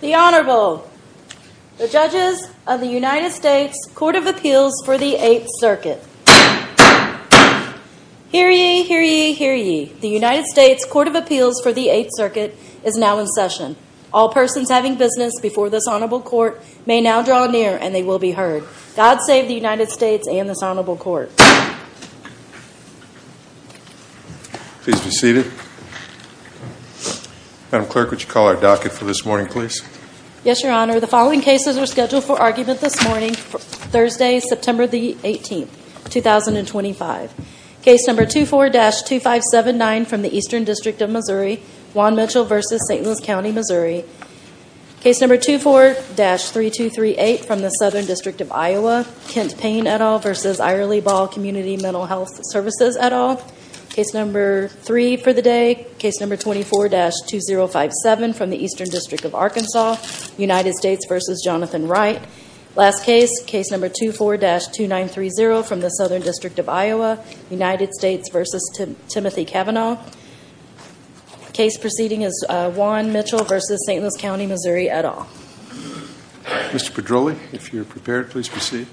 The Honorable, the Judges of the United States Court of Appeals for the Eighth Circuit. Hear ye, hear ye, hear ye, the United States Court of Appeals for the Eighth Circuit is now in session. All persons having business before this Honorable Court may now draw near and they will be heard. God save the United States and this Honorable Court. Please be seated. Madam Clerk, would you call our docket for this morning, please? Yes, Your Honor. The following cases are scheduled for argument this morning, Thursday, September 18, 2025. Case number 24-2579 from the Eastern District of Missouri, Juan Mitchell v. Saint Louis County, Missouri. Case number 24-3238 from the Southern District of Iowa, Kent Payne et al. v. Ira Lee Ball Community Mental Health Services et al. Case number 3 for the day, case number 24-2057 from the Eastern District of Arkansas, United States v. Jonathan Wright. Last case, case number 24-2930 from the Southern District of Iowa, United States v. Timothy Kavanaugh. Case proceeding is Juan Mitchell v. Saint Louis County, Missouri et al. Mr. Pedroli, if you're prepared, please proceed.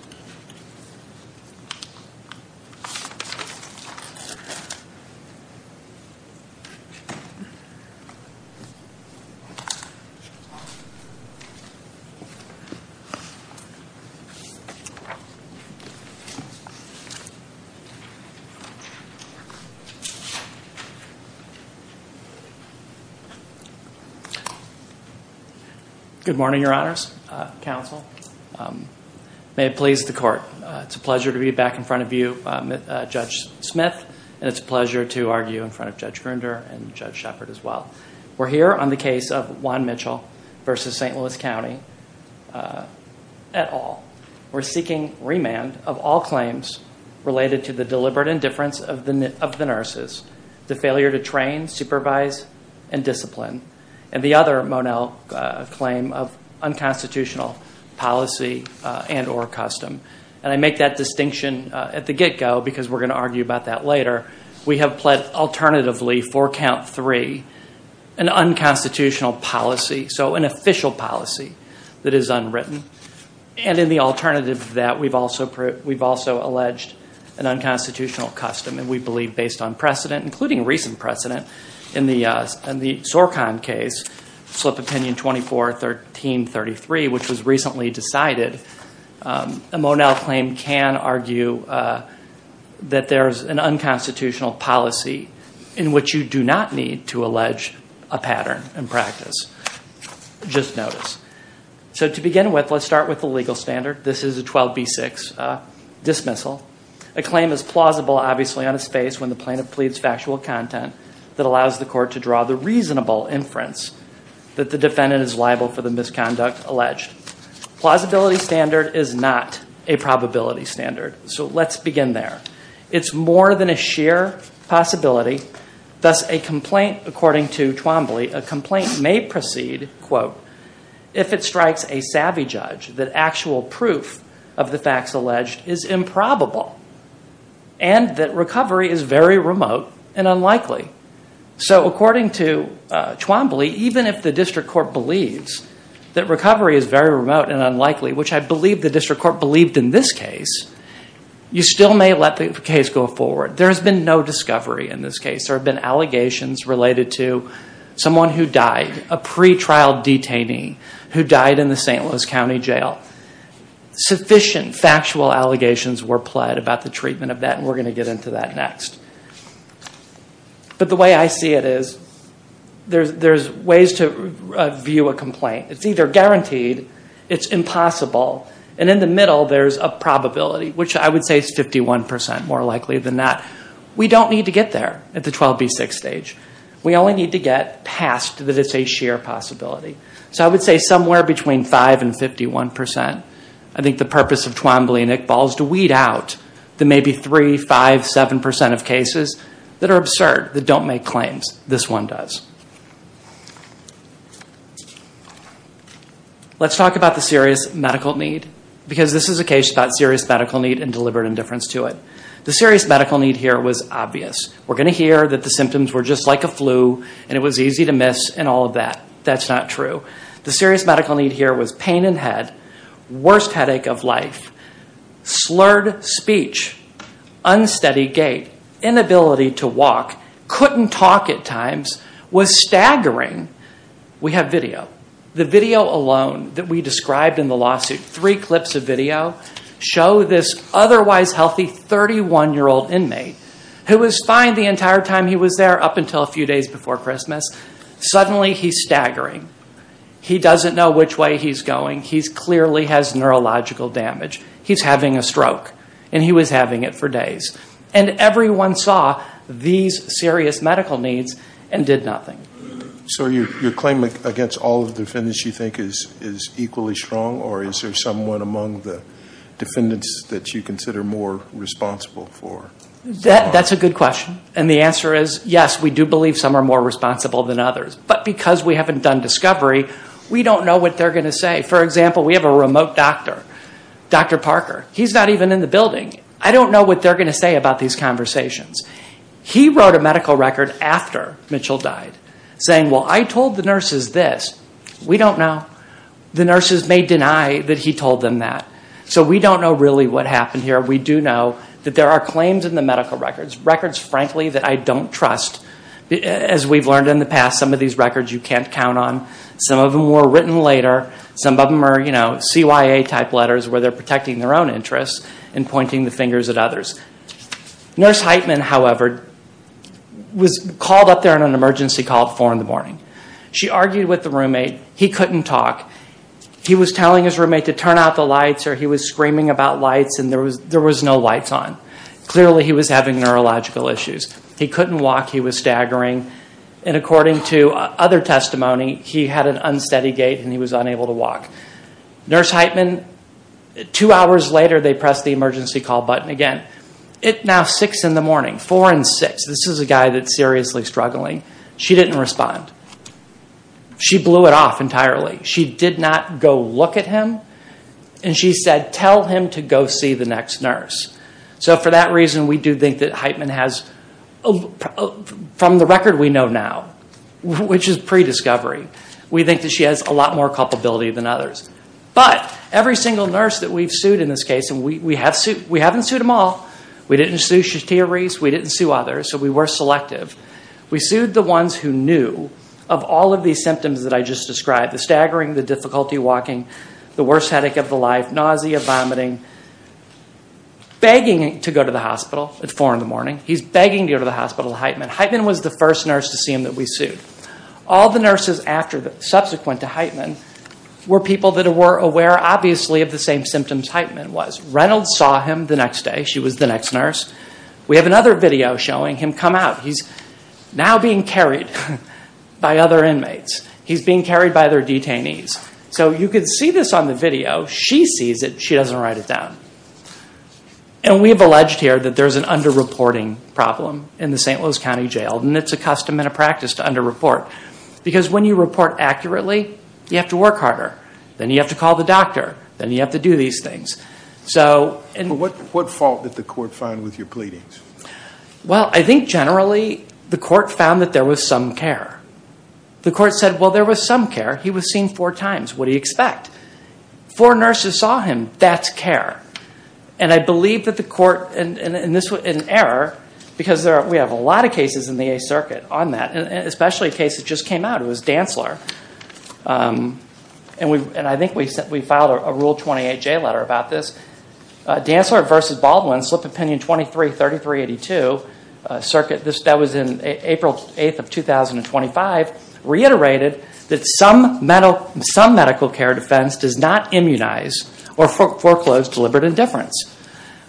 Good morning, Your Honors, Counsel. May it please the Court, it's a pleasure to be back in front of you, Judge Smith, and it's a pleasure to argue in front of Judge Grunder and Judge Shepard as well. We're here on the case of Juan Mitchell v. Saint Louis County et al. We're seeking remand of all claims related to the deliberate indifference of the nurses, the failure to train, supervise, and discipline, and the other Monell claim of unconstitutional policy and or custom. And I make that distinction at the get-go because we're going to argue about that later. We have pled alternatively for count 3 an unconstitutional policy, so an official policy that is unwritten. And in the alternative of that, we've also alleged an unconstitutional custom, and we believe based on precedent, including recent precedent in the SORCON case, Slip Opinion 24-1333, which was recently decided, a Monell claim can argue that there's an unconstitutional policy in which you do not need to allege a pattern in practice. Just notice. So to begin with, let's start with the legal standard. This is a 12b6 dismissal. A claim is plausible, obviously, on a space when the plaintiff pleads factual content that allows the court to draw the reasonable inference that the defendant is liable for the misconduct alleged. Plausibility standard is not a probability standard. So let's begin there. It's more than a sheer possibility, thus a complaint, according to Twombly, a complaint may proceed, quote, if it strikes a savvy judge that actual proof of the facts alleged is improbable and that recovery is very remote and unlikely. So according to Twombly, even if the district court believes that recovery is very remote and unlikely, which I believe the district court believed in this case, you still may let the case go forward. There's been no discovery in this case. There have been allegations related to someone who died, a pretrial detainee who died in the St. Louis County Jail. Sufficient factual allegations were pled about the treatment of that, and we're going to get into that next. But the way I see it is there's ways to view a complaint. It's either guaranteed, it's impossible, and in the middle there's a probability, which I would say is 51% more likely than not. We don't need to get there at the 12b6 stage. We only need to get past that it's a sheer possibility. So I would say somewhere between 5 and 51%. I think the purpose of Twombly and Iqbal is to weed out the maybe 3, 5, 7% of cases that are absurd, that don't make claims. This one does. Let's talk about the serious medical need because this is a case about serious medical need and deliberate indifference to it. The serious medical need here was obvious. We're going to hear that the symptoms were just like a flu and it was easy to miss and all of that. That's not true. The serious medical need here was pain in the head, worst headache of life, slurred speech, unsteady gait, inability to walk, couldn't talk at times, was staggering. We have video. The video alone that we described in the lawsuit, three clips of video, show this otherwise healthy 31-year-old inmate who was fine the entire time he was there up until a few days before Christmas. Suddenly, he's staggering. He doesn't know which way he's going. He clearly has neurological damage. He's having a stroke and he was having it for days and everyone saw these serious medical needs and did nothing. So your claim against all the defendants you think is equally strong or is there someone among the defendants that you consider more responsible for? That's a good question. The answer is yes, we do believe some are more responsible than others. But because we haven't done discovery, we don't know what they're going to say. For example, we have a remote doctor, Dr. Parker. He's not even in the building. I don't know what they're going to say about these conversations. He wrote a medical record after Mitchell died saying, well, I told the nurses this. We don't know. The nurses may deny that he told them that. So we don't know really what happened here. We do know that there are claims in the medical records. Records, frankly, that I don't trust. As we've learned in the past, some of these records you can't count on. Some of them were written later. Some of them are, you know, CYA type letters where they're protecting their own interests and pointing the fingers at others. Nurse Heitman, however, was called up there on an emergency call at four in the morning. She argued with the roommate. He couldn't talk. He was telling his roommate to turn out the lights or he was screaming about lights and there was no lights on. Clearly, he was having neurological issues. He couldn't walk. He was staggering. And according to other testimony, he had an unsteady gait and he was unable to walk. Nurse Heitman, two hours later, they pressed the emergency call button again. It now six in the morning, four and six. This is a guy that's seriously struggling. She didn't respond. She blew it off entirely. She did not go look at him and she said, tell him to go see the next nurse. So for that reason, we do think that Heitman has, from the record we know now, which is prediscovery, we think that she has a lot more culpability than others. But every single nurse that we've sued in this case, and we haven't sued them all. We didn't sue Shatia Reese. We didn't sue others. So we were selective. We sued the ones who knew of all of these symptoms that I just described, the staggering, the difficulty walking, the worst headache of the life, nausea, vomiting, begging to go to the hospital at four in the morning. He's begging to go to the hospital, Heitman. Heitman was the first nurse to see him that we sued. All the nurses subsequent to Heitman were people that were aware, obviously, of the same symptoms Heitman was. Reynolds saw him the next day. She was the next nurse. We have another video showing him come out. He's now being carried by other inmates. He's being carried by other detainees. So you can see this on the video. She sees it. She doesn't write it down. And we've alleged here that there's an under-reporting problem in the St. Louis County Jail, and it's a custom and a practice to under-report. Because when you report accurately, you have to work harder. Then you have to call the doctor. Then you have to do these things. What fault did the court find with your pleadings? Well, I think generally the court found that there was some care. The court said, well, there was some care. He was seen four times. What do you expect? Four nurses saw him. That's care. And I believe that the court, and this was an error, because we have a lot of cases in the Eighth Circuit on that, especially a case that just came out, it was Dantzler. And I think we filed a Rule 28 J letter about this. Dantzler v. Baldwin, Slip of Penny 233382, a circuit that was in April 8th of 2025, reiterated that some medical care defense does not immunize or foreclose deliberate indifference.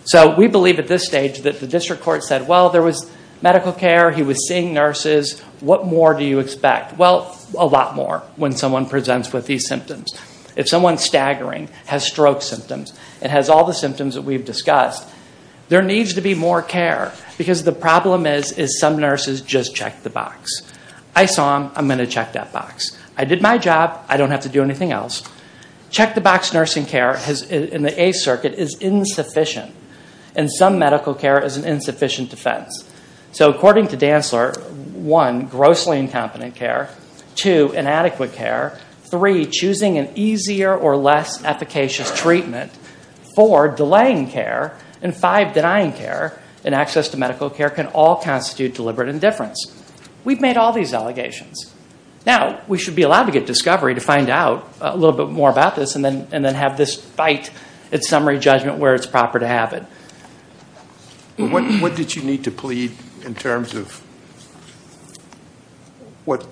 So we believe at this stage that the district court said, well, there was medical care. He was seeing nurses. What more do you expect? Well, a lot more when someone presents with these symptoms. If someone's staggering, has stroke symptoms, and has all the symptoms that we've discussed, there needs to be more care, because the problem is, is some nurses just checked the box. I saw him. I'm going to check that box. I did my job. I don't have to do anything else. Check-the-box nursing care in the Eighth Circuit is insufficient. And some medical care is an insufficient defense. So according to Dantzler, one, grossly incompetent care, two, inadequate care, three, choosing an easier or less efficacious treatment, four, delaying care, and five, denying care and access to medical care can all constitute deliberate indifference. We've made all these allegations. Now, we should be allowed to get discovery to find out a little bit more about this and then have this fight at summary judgment where it's proper to have it. But what did you need to plead in terms of what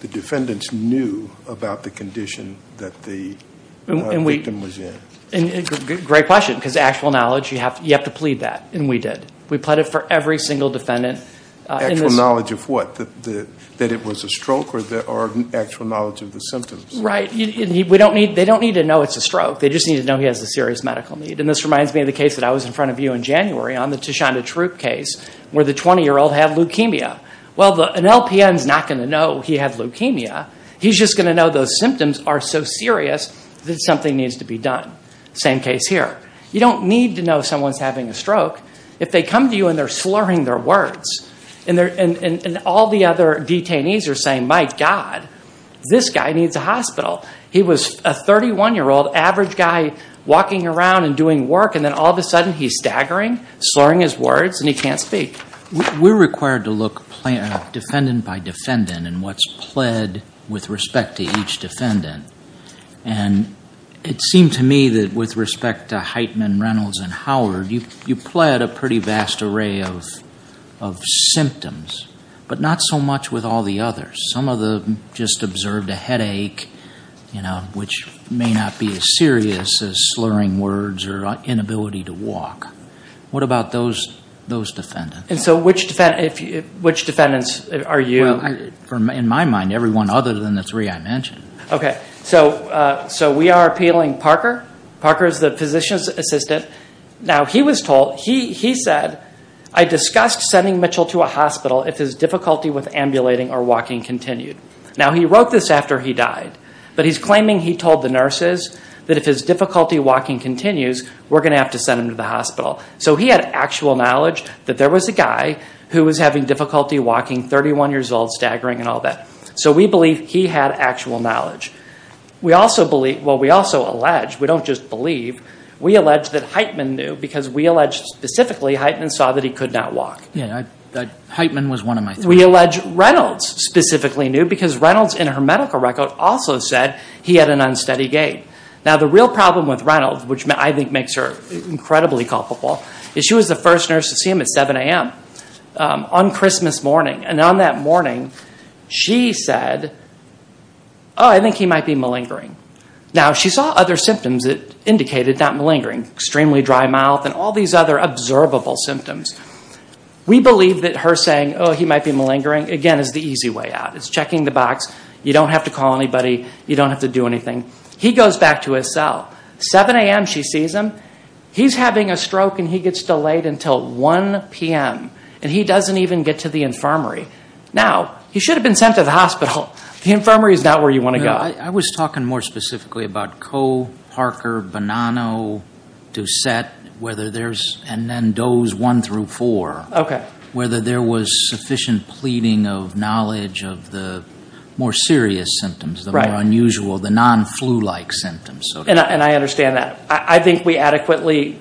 the defendants knew about the condition that the victim was in? Great question. Because actual knowledge, you have to plead that, and we did. We pleaded for every single defendant. Actual knowledge of what? That it was a stroke, or actual knowledge of the symptoms? Right. They don't need to know it's a stroke. They just need to know he has a serious medical need. And this reminds me of the case that I was in front of you in January on the Tishanda Troop case where the 20-year-old had leukemia. Well, an LPN's not going to know he had leukemia. He's just going to know those symptoms are so serious that something needs to be done. Same case here. You don't need to know someone's having a stroke. If they come to you and they're slurring their words, and all the other detainees are saying, my God, this guy needs a hospital. He was a 31-year-old, average guy, walking around and doing work, and then all of a sudden he's staggering, slurring his words, and he can't speak. We're required to look defendant by defendant and what's pled with respect to each defendant. And it seemed to me that with respect to Heitman, Reynolds, and Howard, you pled a pretty vast array of symptoms, but not so much with all the others. Some of them just observed a headache, which may not be as serious as slurring words or inability to walk. What about those defendants? And so which defendants are you? In my mind, everyone other than the three I mentioned. So we are appealing Parker. Parker is the physician's assistant. Now he was told, he said, I discussed sending Mitchell to a hospital if his difficulty with ambulating or walking continued. Now he wrote this after he died, but he's claiming he told the nurses that if his difficulty walking continues, we're going to have to send him to the hospital. So he had actual knowledge that there was a guy who was having difficulty walking, 31 years old, staggering, and all that. So we believe he had actual knowledge. We also believe, well, we also allege, we don't just believe, we allege that Heitman knew because we allege specifically Heitman saw that he could not walk. Heitman was one of my... We allege Reynolds specifically knew because Reynolds in her medical record also said he had an unsteady gait. Now the real problem with Reynolds, which I think makes her incredibly culpable, is she was the first nurse to see him at 7 a.m. on Christmas morning. And on that morning, she said, oh, I think he might be malingering. Now she saw other symptoms that indicated that malingering, extremely dry mouth and all these other observable symptoms. We believe that her saying, oh, he might be malingering, again, is the easy way out. It's checking the box. You don't have to call anybody. You don't have to do anything. He goes back to his cell. 7 a.m. she sees him. He's having a stroke and he gets delayed until 1 p.m. And he doesn't even get to the infirmary. Now he should have been sent to the hospital. The infirmary is not where you want to go. I was talking more specifically about Coe, Parker, Bonanno, Doucette, whether there's and then those 1 through 4, whether there was sufficient pleading of knowledge of the more serious symptoms, the more unusual, the non-flu-like symptoms. And I understand that. I think we adequately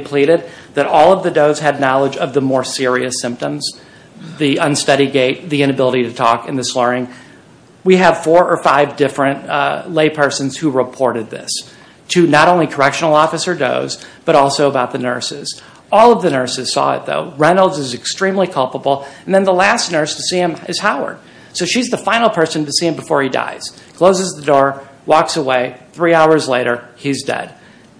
pleaded that all of the does had knowledge of the more serious symptoms, the unsteady gait, the inability to talk and the slurring. We have four or five different laypersons who reported this to not only correctional officer does but also about the nurses. All of the nurses saw it though. Reynolds is extremely culpable and then the last nurse to see him is Howard. So she's the final person to see him before he dies, closes the door, walks away, three hours later he's dead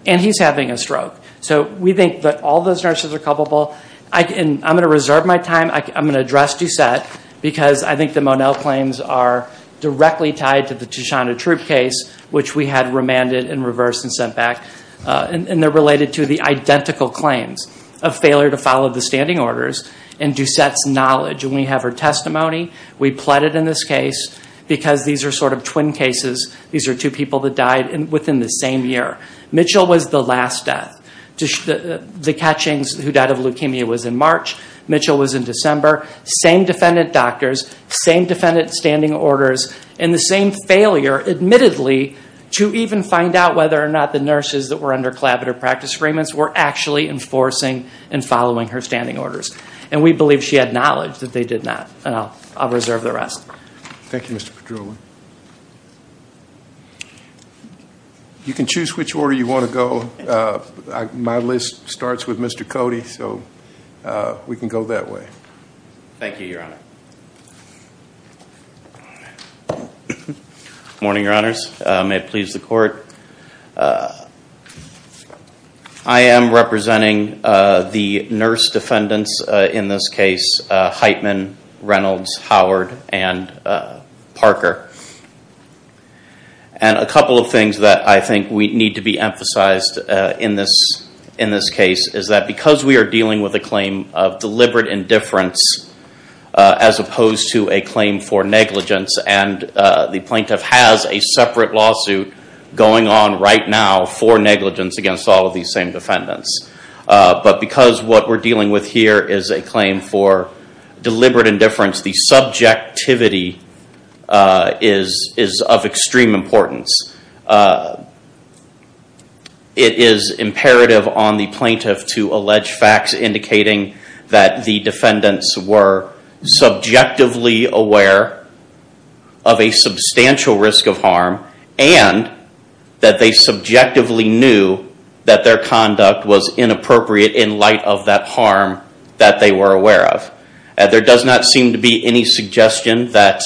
and he's having a stroke. So we think that all those nurses are culpable. I'm going to reserve my time. I'm going to address Doucette because I think the Monel claims are directly tied to the Shana Troop case, which we had remanded and reversed and sent back, and they're related to the identical claims of failure to follow the standing orders and Doucette's knowledge. And we have her testimony. We pleaded in this case because these are sort of twin cases. These are two people that died within the same year. Mitchell was the last death. The catchings who died of leukemia was in March. Mitchell was in December. Same defendant doctors, same defendant standing orders, and the same failure, admittedly, to even find out whether or not the nurses that were under collaborative practice agreements were actually enforcing and following her standing orders. And we believe she had knowledge that they did not. I'll reserve the rest. Thank you, Mr. Padrula. You can choose which order you want to go. My list starts with Mr. Cody, so we can go that way. Thank you, Your Honor. Morning, Your Honors. May it please the court. I am representing the nurse defendants in this case, Heitman, Reynolds, Howard, and Parker. And a couple of things that I think we need to be emphasized in this case is that because we are dealing with a claim of deliberate indifference, as opposed to a claim for negligence, and the plaintiff has a separate lawsuit going on right now for negligence against all of these same defendants. But because what we're dealing with here is a claim for deliberate indifference, the subjectivity is of extreme importance. It is imperative on the plaintiff to allege facts indicating that the defendants were subjectively aware of a substantial risk of harm, and that they subjectively knew that their conduct was inappropriate in light of that harm that they were aware of. There does not seem to be any suggestion that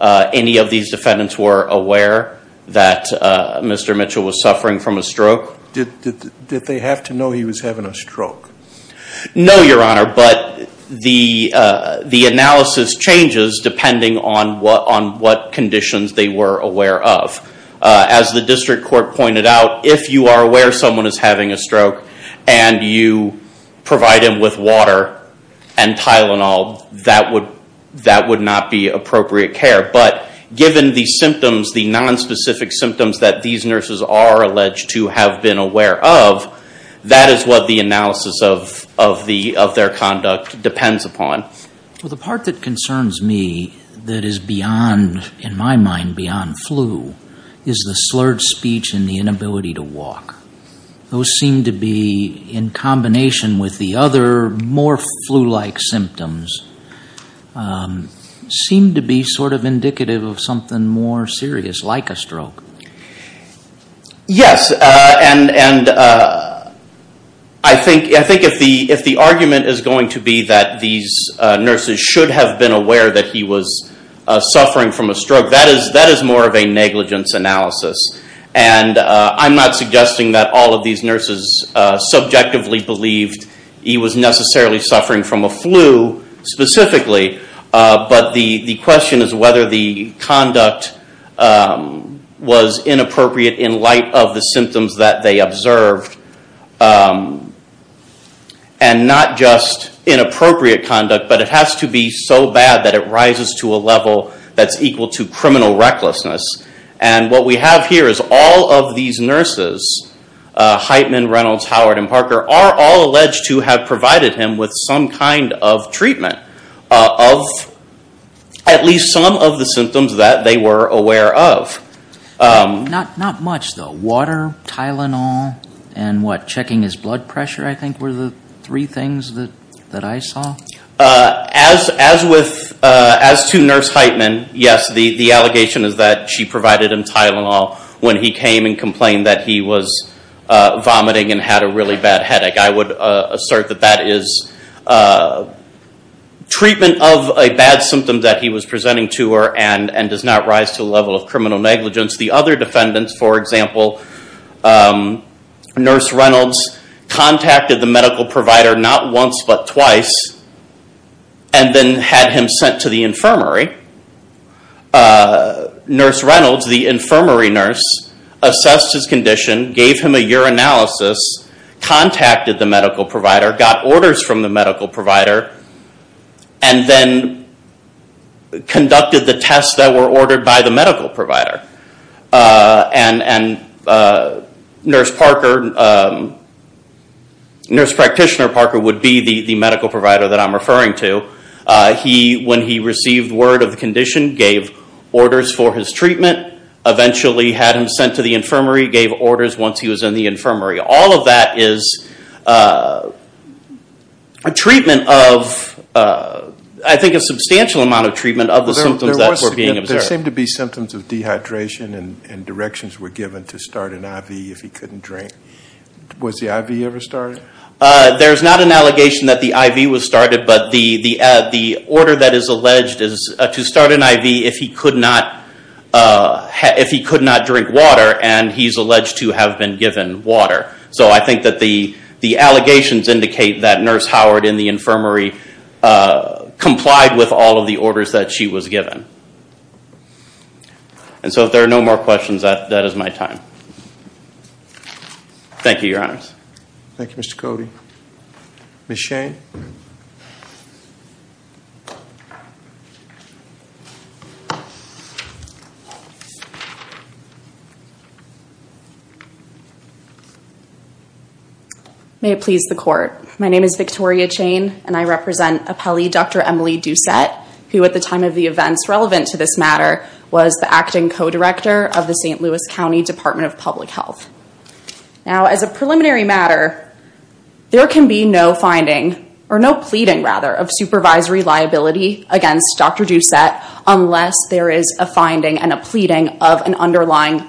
any of these defendants were aware that Mr. Mitchell was suffering from a stroke. Did they have to know he was having a stroke? No, Your Honor, but the analysis changes depending on what conditions they were aware of. As the district court pointed out, if you are aware someone is having a stroke and you provide them with water and Tylenol, that would not be appropriate care. But given the symptoms, the nonspecific symptoms that these nurses are alleged to have been aware of, that is what the analysis of their conduct depends upon. The part that concerns me that is beyond, in my mind, beyond flu is the slurred speech and the inability to walk. Those seem to be, in combination with the other more flu-like symptoms, seem to be sort of indicative of something more serious, like a stroke. Yes, and I think if the argument is going to be that these nurses should have been aware that he was suffering from a stroke, that is more of a negligence analysis. I am not suggesting that all of these nurses subjectively believed he was necessarily suffering from a flu, specifically, but the question is whether the conduct was inappropriate in light of the symptoms that they observed. Not just inappropriate conduct, but it has to be so bad that it rises to a level that is equal to criminal recklessness. And what we have here is all of these nurses, Heitman, Reynolds, Howard, and Parker, are all alleged to have provided him with some kind of treatment of at least some of the symptoms that they were aware of. Not much though. Water, Tylenol, and what, checking his blood pressure, I think, were the three things that I saw. As to Nurse Heitman, yes, the allegation is that she provided him Tylenol when he came and complained that he was vomiting and had a really bad headache. I would assert that that is treatment of a bad symptom that he was presenting to her and does not rise to a level of criminal negligence. The other defendants, for example, Nurse Reynolds, contacted the medical provider not once but twice, and then had him sent to the infirmary. Nurse Reynolds, the infirmary nurse, assessed his condition, gave him a urinalysis, contacted the medical provider, got orders from the medical provider, and then conducted the tests that were ordered by the medical provider. And Nurse Practitioner Parker would be the medical provider that I'm referring to. When he received word of the condition, gave orders for his treatment, eventually had him sent to the infirmary, gave orders once he was in the infirmary. All of that is a treatment of, I think, a substantial amount of treatment of the symptoms that were being observed. There seemed to be symptoms of dehydration and directions were given to start an IV if he couldn't drink. Was the IV ever started? There's not an allegation that the IV was started, but the order that is alleged is to start an IV if he could not drink water, and he's alleged to have been given water. So I think that the allegations indicate that Nurse Howard in the infirmary complied with all of the orders that she was given. And so if there are no more questions, that is my time. Thank you, Your Honors. Thank you, Mr. Cody. Ms. Chain? May it please the Court. My name is Victoria Chain, and I represent appellee Dr. Emily Doucette, who at the time of the events relevant to this matter was the acting co-director of the St. Louis County Department of Public Health. Now, as a preliminary matter, there can be no finding, or no pleading, rather, of supervisory liability against Dr. Doucette unless there is a finding and a pleading of an underlying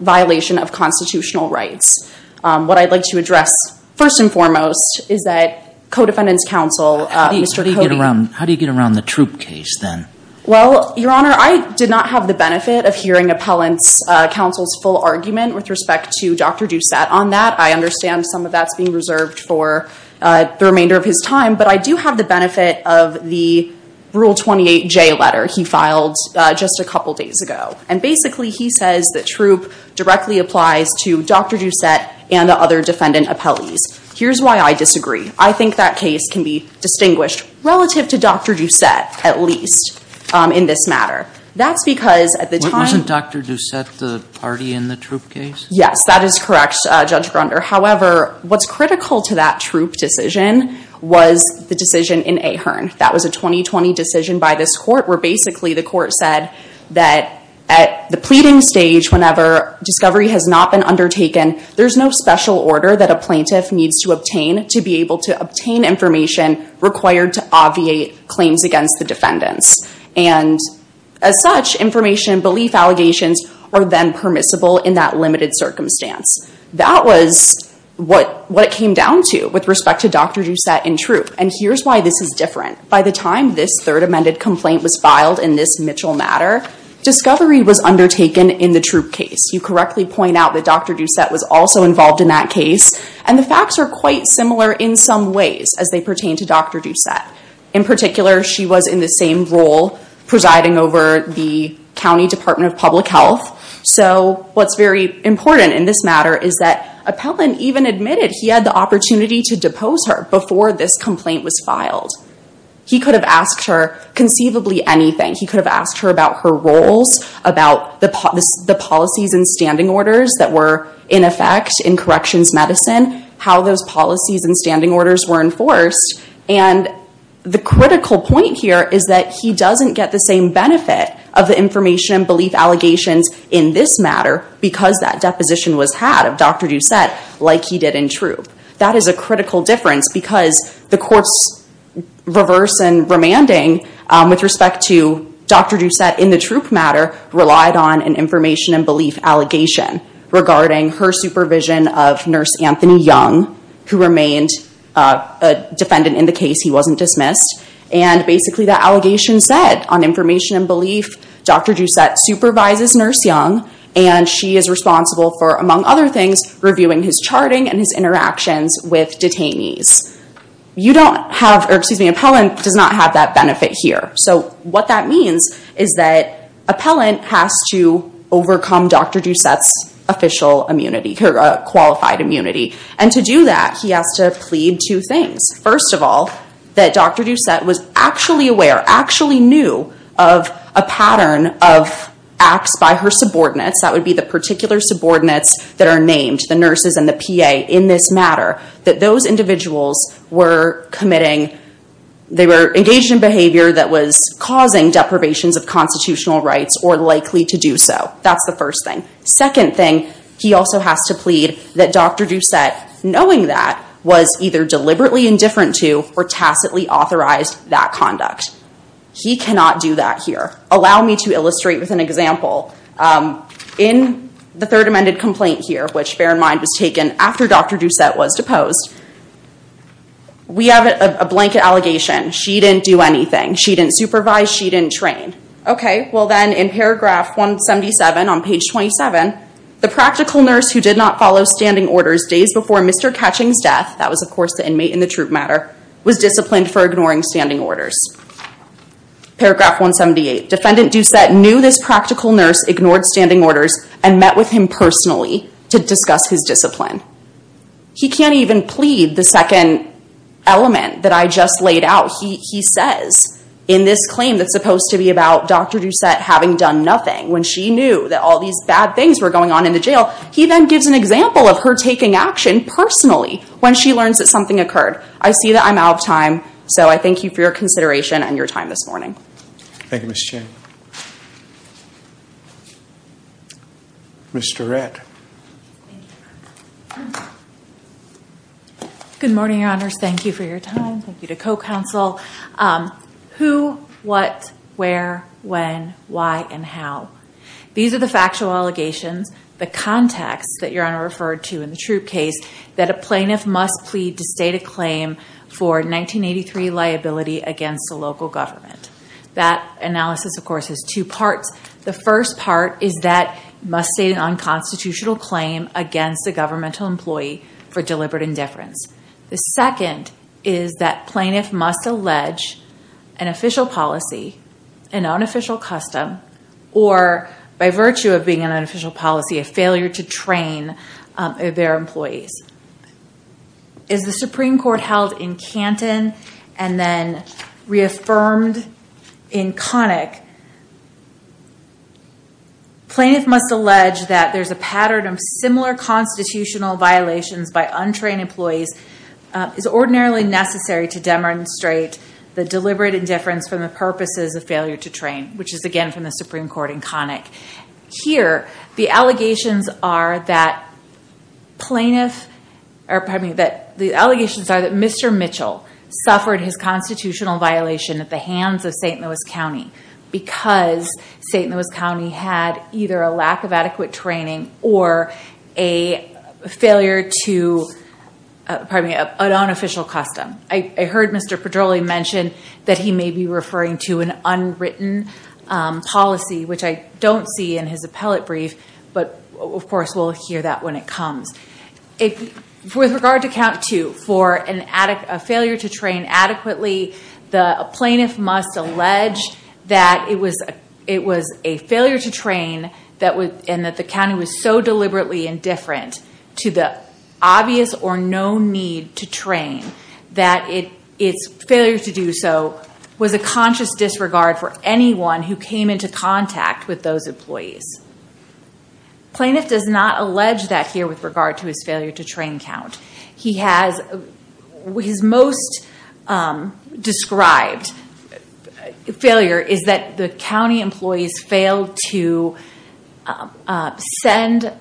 violation of constitutional rights. What I'd like to address, first and foremost, is that co-defendants counsel, Mr. Cody— How do you get around the Troop case, then? Well, Your Honor, I did not have the benefit of hearing appellants counsel's full argument with respect to Dr. Doucette on that. I understand some of that's being reserved for the remainder of his time, but I do have the benefit of the Rule 28J letter he filed just a couple days ago. And basically, he says the Troop directly applies to Dr. Doucette and the other defendant appellees. Here's why I disagree. I think that case can be distinguished relative to Dr. Doucette, at least, in this matter. That's because at the time— Wasn't Dr. Doucette the party in the Troop case? Yes, that is correct, Judge Grunder. However, what's critical to that Troop decision was the decision in Ahearn. That was a 2020 decision by this Court where basically the Court said that at the pleading stage whenever discovery has not been undertaken, there's no special order that a plaintiff needs to obtain to be able to obtain information required to obviate claims against the defendants. And as such, information and belief allegations are then permissible in that limited circumstance. That was what it came down to with respect to Dr. Doucette and Troop. And here's why this is different. By the time this Third Amendment complaint was filed in this Mitchell matter, discovery was undertaken in the Troop case. You correctly point out that Dr. Doucette was also involved in that case. And the facts are quite similar in some ways as they pertain to Dr. Doucette. In particular, she was in the same role presiding over the County Department of Public Health. So what's very important in this matter is that Appellant even admitted he had the opportunity to depose her before this complaint was filed. He could have asked her conceivably anything. He could have asked her about her roles, about the policies and standing orders that were in effect in corrections medicine, how those policies and standing orders were enforced. And the critical point here is that he doesn't get the same benefit of the information and belief allegations in this matter because that deposition was had of Dr. Doucette like he did in Troop. That is a critical difference because the court's reverse and remanding with respect to Dr. Doucette in the Troop matter relied on an information and belief allegation regarding her supervision of Nurse Anthony Young, who remained a defendant in the case. He wasn't dismissed. And basically that allegation said on information and belief, Dr. Doucette supervises Nurse Young and she is responsible for, among other things, reviewing his charting and his interactions with detainees. You don't have, or excuse me, Appellant does not have that benefit here. So what that means is that Appellant has to overcome Dr. Doucette's official immunity, her qualified immunity. And to do that, he has to plead two things. First of all, that Dr. Doucette was actually aware, actually knew of a pattern of acts by her subordinates, that would be the particular subordinates that are named, the nurses and the PA in this matter, that those individuals were committing, they were engaged in behavior that was causing deprivations of constitutional rights or likely to do so. That's the first thing. Second thing, he also has to plead that Dr. Doucette, knowing that, was either deliberately indifferent to or tacitly authorized that conduct. He cannot do that here. Allow me to illustrate with an example. In the third amended complaint here, which bear in mind was taken after Dr. Doucette was deposed, we have a blanket allegation. She didn't do anything. She didn't supervise. She didn't train. Okay, well then in paragraph 177 on page 27, the practical nurse who did not follow standing orders days before Mr. Ketching's death, that was of course the inmate in the troop matter, was disciplined for ignoring standing orders. Paragraph 178, defendant Doucette knew this practical nurse ignored standing orders and met with him personally to discuss his discipline. He can't even plead the second element that I just laid out. He says in this claim that's supposed to be about Dr. Doucette having done nothing when she knew that all these bad things were going on in the jail, he then gives an example of her taking action personally when she learns that something occurred. I see that I'm out of time, so I thank you for your consideration and your time this morning. Thank you, Ms. Chen. Ms. Tourette. Good morning, your honors. Thank you for your time. Thank you to co-counsel. Who, what, where, when, why, and how. These are the factual allegations, the context that your honor referred to in the troop case that a plaintiff must plead to state a claim for 1983 liability against a local government. That analysis, of course, has two parts. The first part is that must state an unconstitutional claim against a governmental employee for deliberate indifference. The second is that plaintiff must allege an official policy, an unofficial custom, or by virtue of being an unofficial policy, a failure to train their employees. Is the Supreme Court held in Canton and then reaffirmed in Connick, plaintiff must allege that there's a pattern of similar constitutional violations by untrained employees is ordinarily necessary to demonstrate the deliberate indifference from the purposes of failure to train, which is, again, from the Supreme Court in Connick. Here, the allegations are that Mr. Mitchell suffered his constitutional violation at the hands of St. Louis County because St. Louis County had either a lack of adequate training or a failure to, pardon me, an unofficial custom. I heard Mr. Pedroli mention that he may be referring to an unwritten policy, which I don't see in his appellate brief, but, of course, we'll hear that when it comes. With regard to count two, for a failure to train adequately, the plaintiff must allege that it was a failure to train and that the county was so deliberately indifferent to the obvious or no need to train that its failure to do so was a conscious disregard for anyone who came into contact with those employees. Plaintiff does not allege that here with regard to his failure to train count. He has... His most described failure is that the county employees failed to send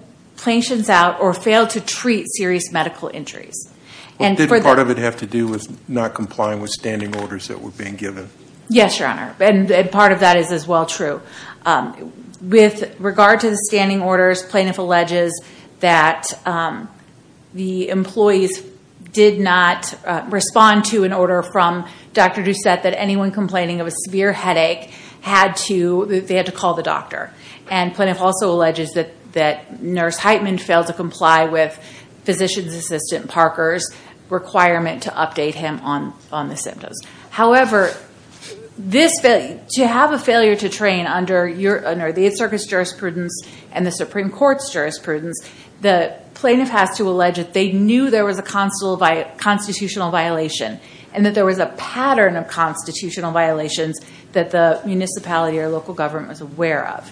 patients out or failed to treat serious medical injuries. Did part of it have to do with not complying with standing orders that were being given? Yes, your honor. Part of that is as well true. With regard to the standing orders, plaintiff alleges that the employees did not respond to an order from Dr. Doucette that anyone complaining of a severe headache had to... They had to call the doctor. Plaintiff also alleges that Nurse Heitman failed to comply with physician's assistant Parker's requirement to update him on the symptoms. However, to have a failure to train under the 8th Circuit's jurisprudence and the Supreme Court's jurisprudence, the plaintiff has to allege that they knew there was a constitutional violation and that there was a pattern of constitutional violations that the municipality or local government was aware of.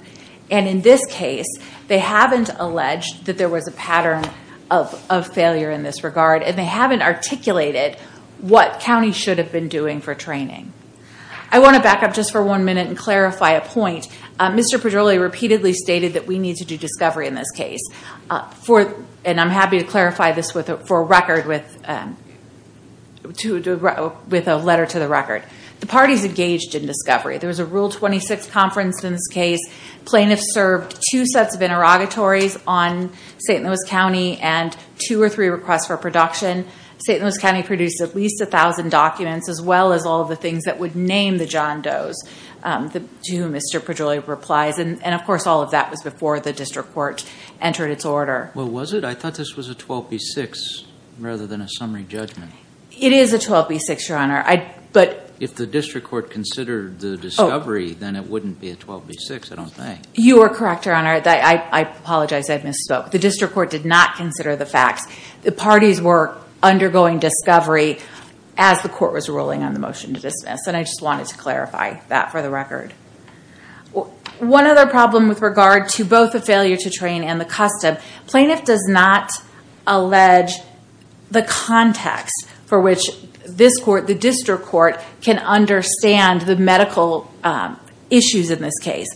In this case, they haven't alleged that there was a pattern of failure in this regard and they haven't articulated what counties should have been doing for training. I want to back up just for one minute and clarify a point. Mr. Pedrilli repeatedly stated that we need to do discovery in this case. I'm happy to clarify this for record with a letter to the record. The parties engaged in discovery. There was a Rule 26 conference in this case. Plaintiffs served two sets of interrogatories on St. Louis County and two or three requests for production. St. Louis County produced at least 1,000 documents as well as all of the things that would name the John Doe's, to whom Mr. Pedrilli replies, and of course, all of that was before the district court entered its order. Well, was it? I thought this was a 12B6 rather than a summary judgment. It is a 12B6, Your Honor. If the district court considered the discovery, then it wouldn't be a 12B6, I don't think. You are correct, Your Honor. I apologize. I misspoke. The district court did not consider the facts. The parties were undergoing discovery as the court was ruling on the motion to dismiss. I just wanted to clarify that for the record. One other problem with regard to both the failure to train and the custom, plaintiff does not allege the context for which this court, the district court, can understand the medical issues in this case.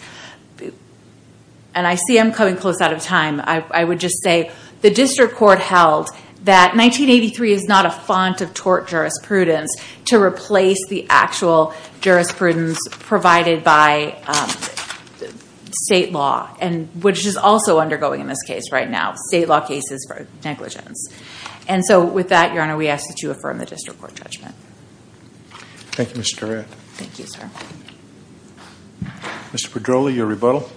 I see I'm coming close out of time. I would just say the district court held that 1983 is not a font of tort jurisprudence to replace the actual jurisprudence provided by state law, which is also undergoing in this case right now. State law cases for negligence. With that, Your Honor, we ask that you affirm the district court judgment. Thank you, Ms. Durand. Thank you, sir. Mr. Pedroli, your rebuttal.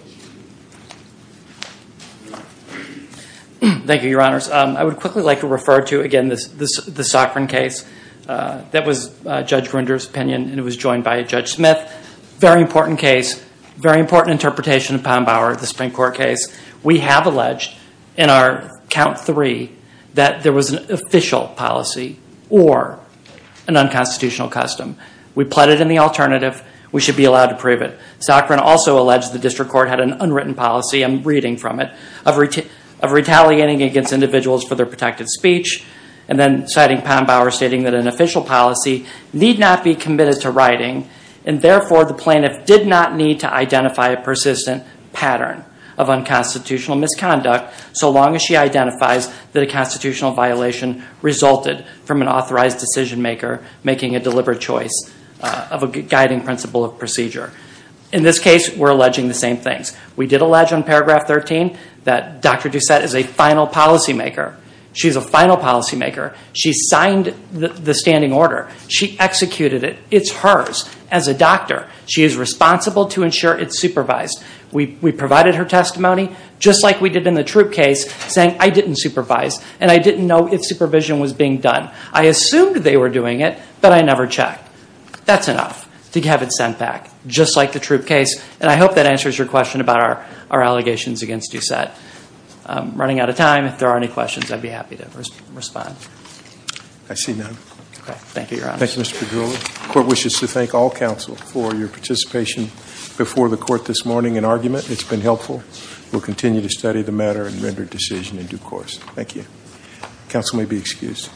Thank you, Your Honors. I would quickly like to refer to, again, the Sokrin case. That was Judge Grinder's opinion, and it was joined by Judge Smith. Very important case. Very important interpretation of Poundbauer, the Supreme Court case. We have alleged in our count three that there was an official policy or an unconstitutional custom. We pleaded in the alternative. We should be allowed to prove it. Sokrin also alleged the district court had an unwritten policy, I'm reading from it, of retaliating against individuals for their protected speech, and then citing Poundbauer stating that an official policy need not be committed to writing, and therefore, the plaintiff did not need to identify a persistent pattern of unconstitutional misconduct so long as she identifies that a constitutional violation resulted from an authorized decision maker making a deliberate choice of a guiding principle of procedure. In this case, we're alleging the same things. We did allege on paragraph 13 that Dr. Doucette is a final policymaker. She's a final policymaker. She signed the standing order. She executed it. It's hers as a doctor. She is responsible to ensure it's supervised. We provided her testimony, just like we did in the Troop case, saying I didn't supervise, and I didn't know if supervision was being done. I assumed they were doing it, but I never checked. That's enough to have it sent back, just like the Troop case, and I hope that answers your question about our allegations against Doucette. Running out of time. If there are any questions, I'd be happy to respond. I see none. Okay. Thank you, Your Honor. Thank you, Mr. Padula. The court wishes to thank all counsel for your participation before the court this morning in argument. It's been helpful. We'll continue to study the matter and render a decision in due course. Thank you. Counsel may be excused.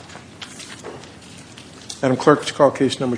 Madam Clerk, let's call case number two.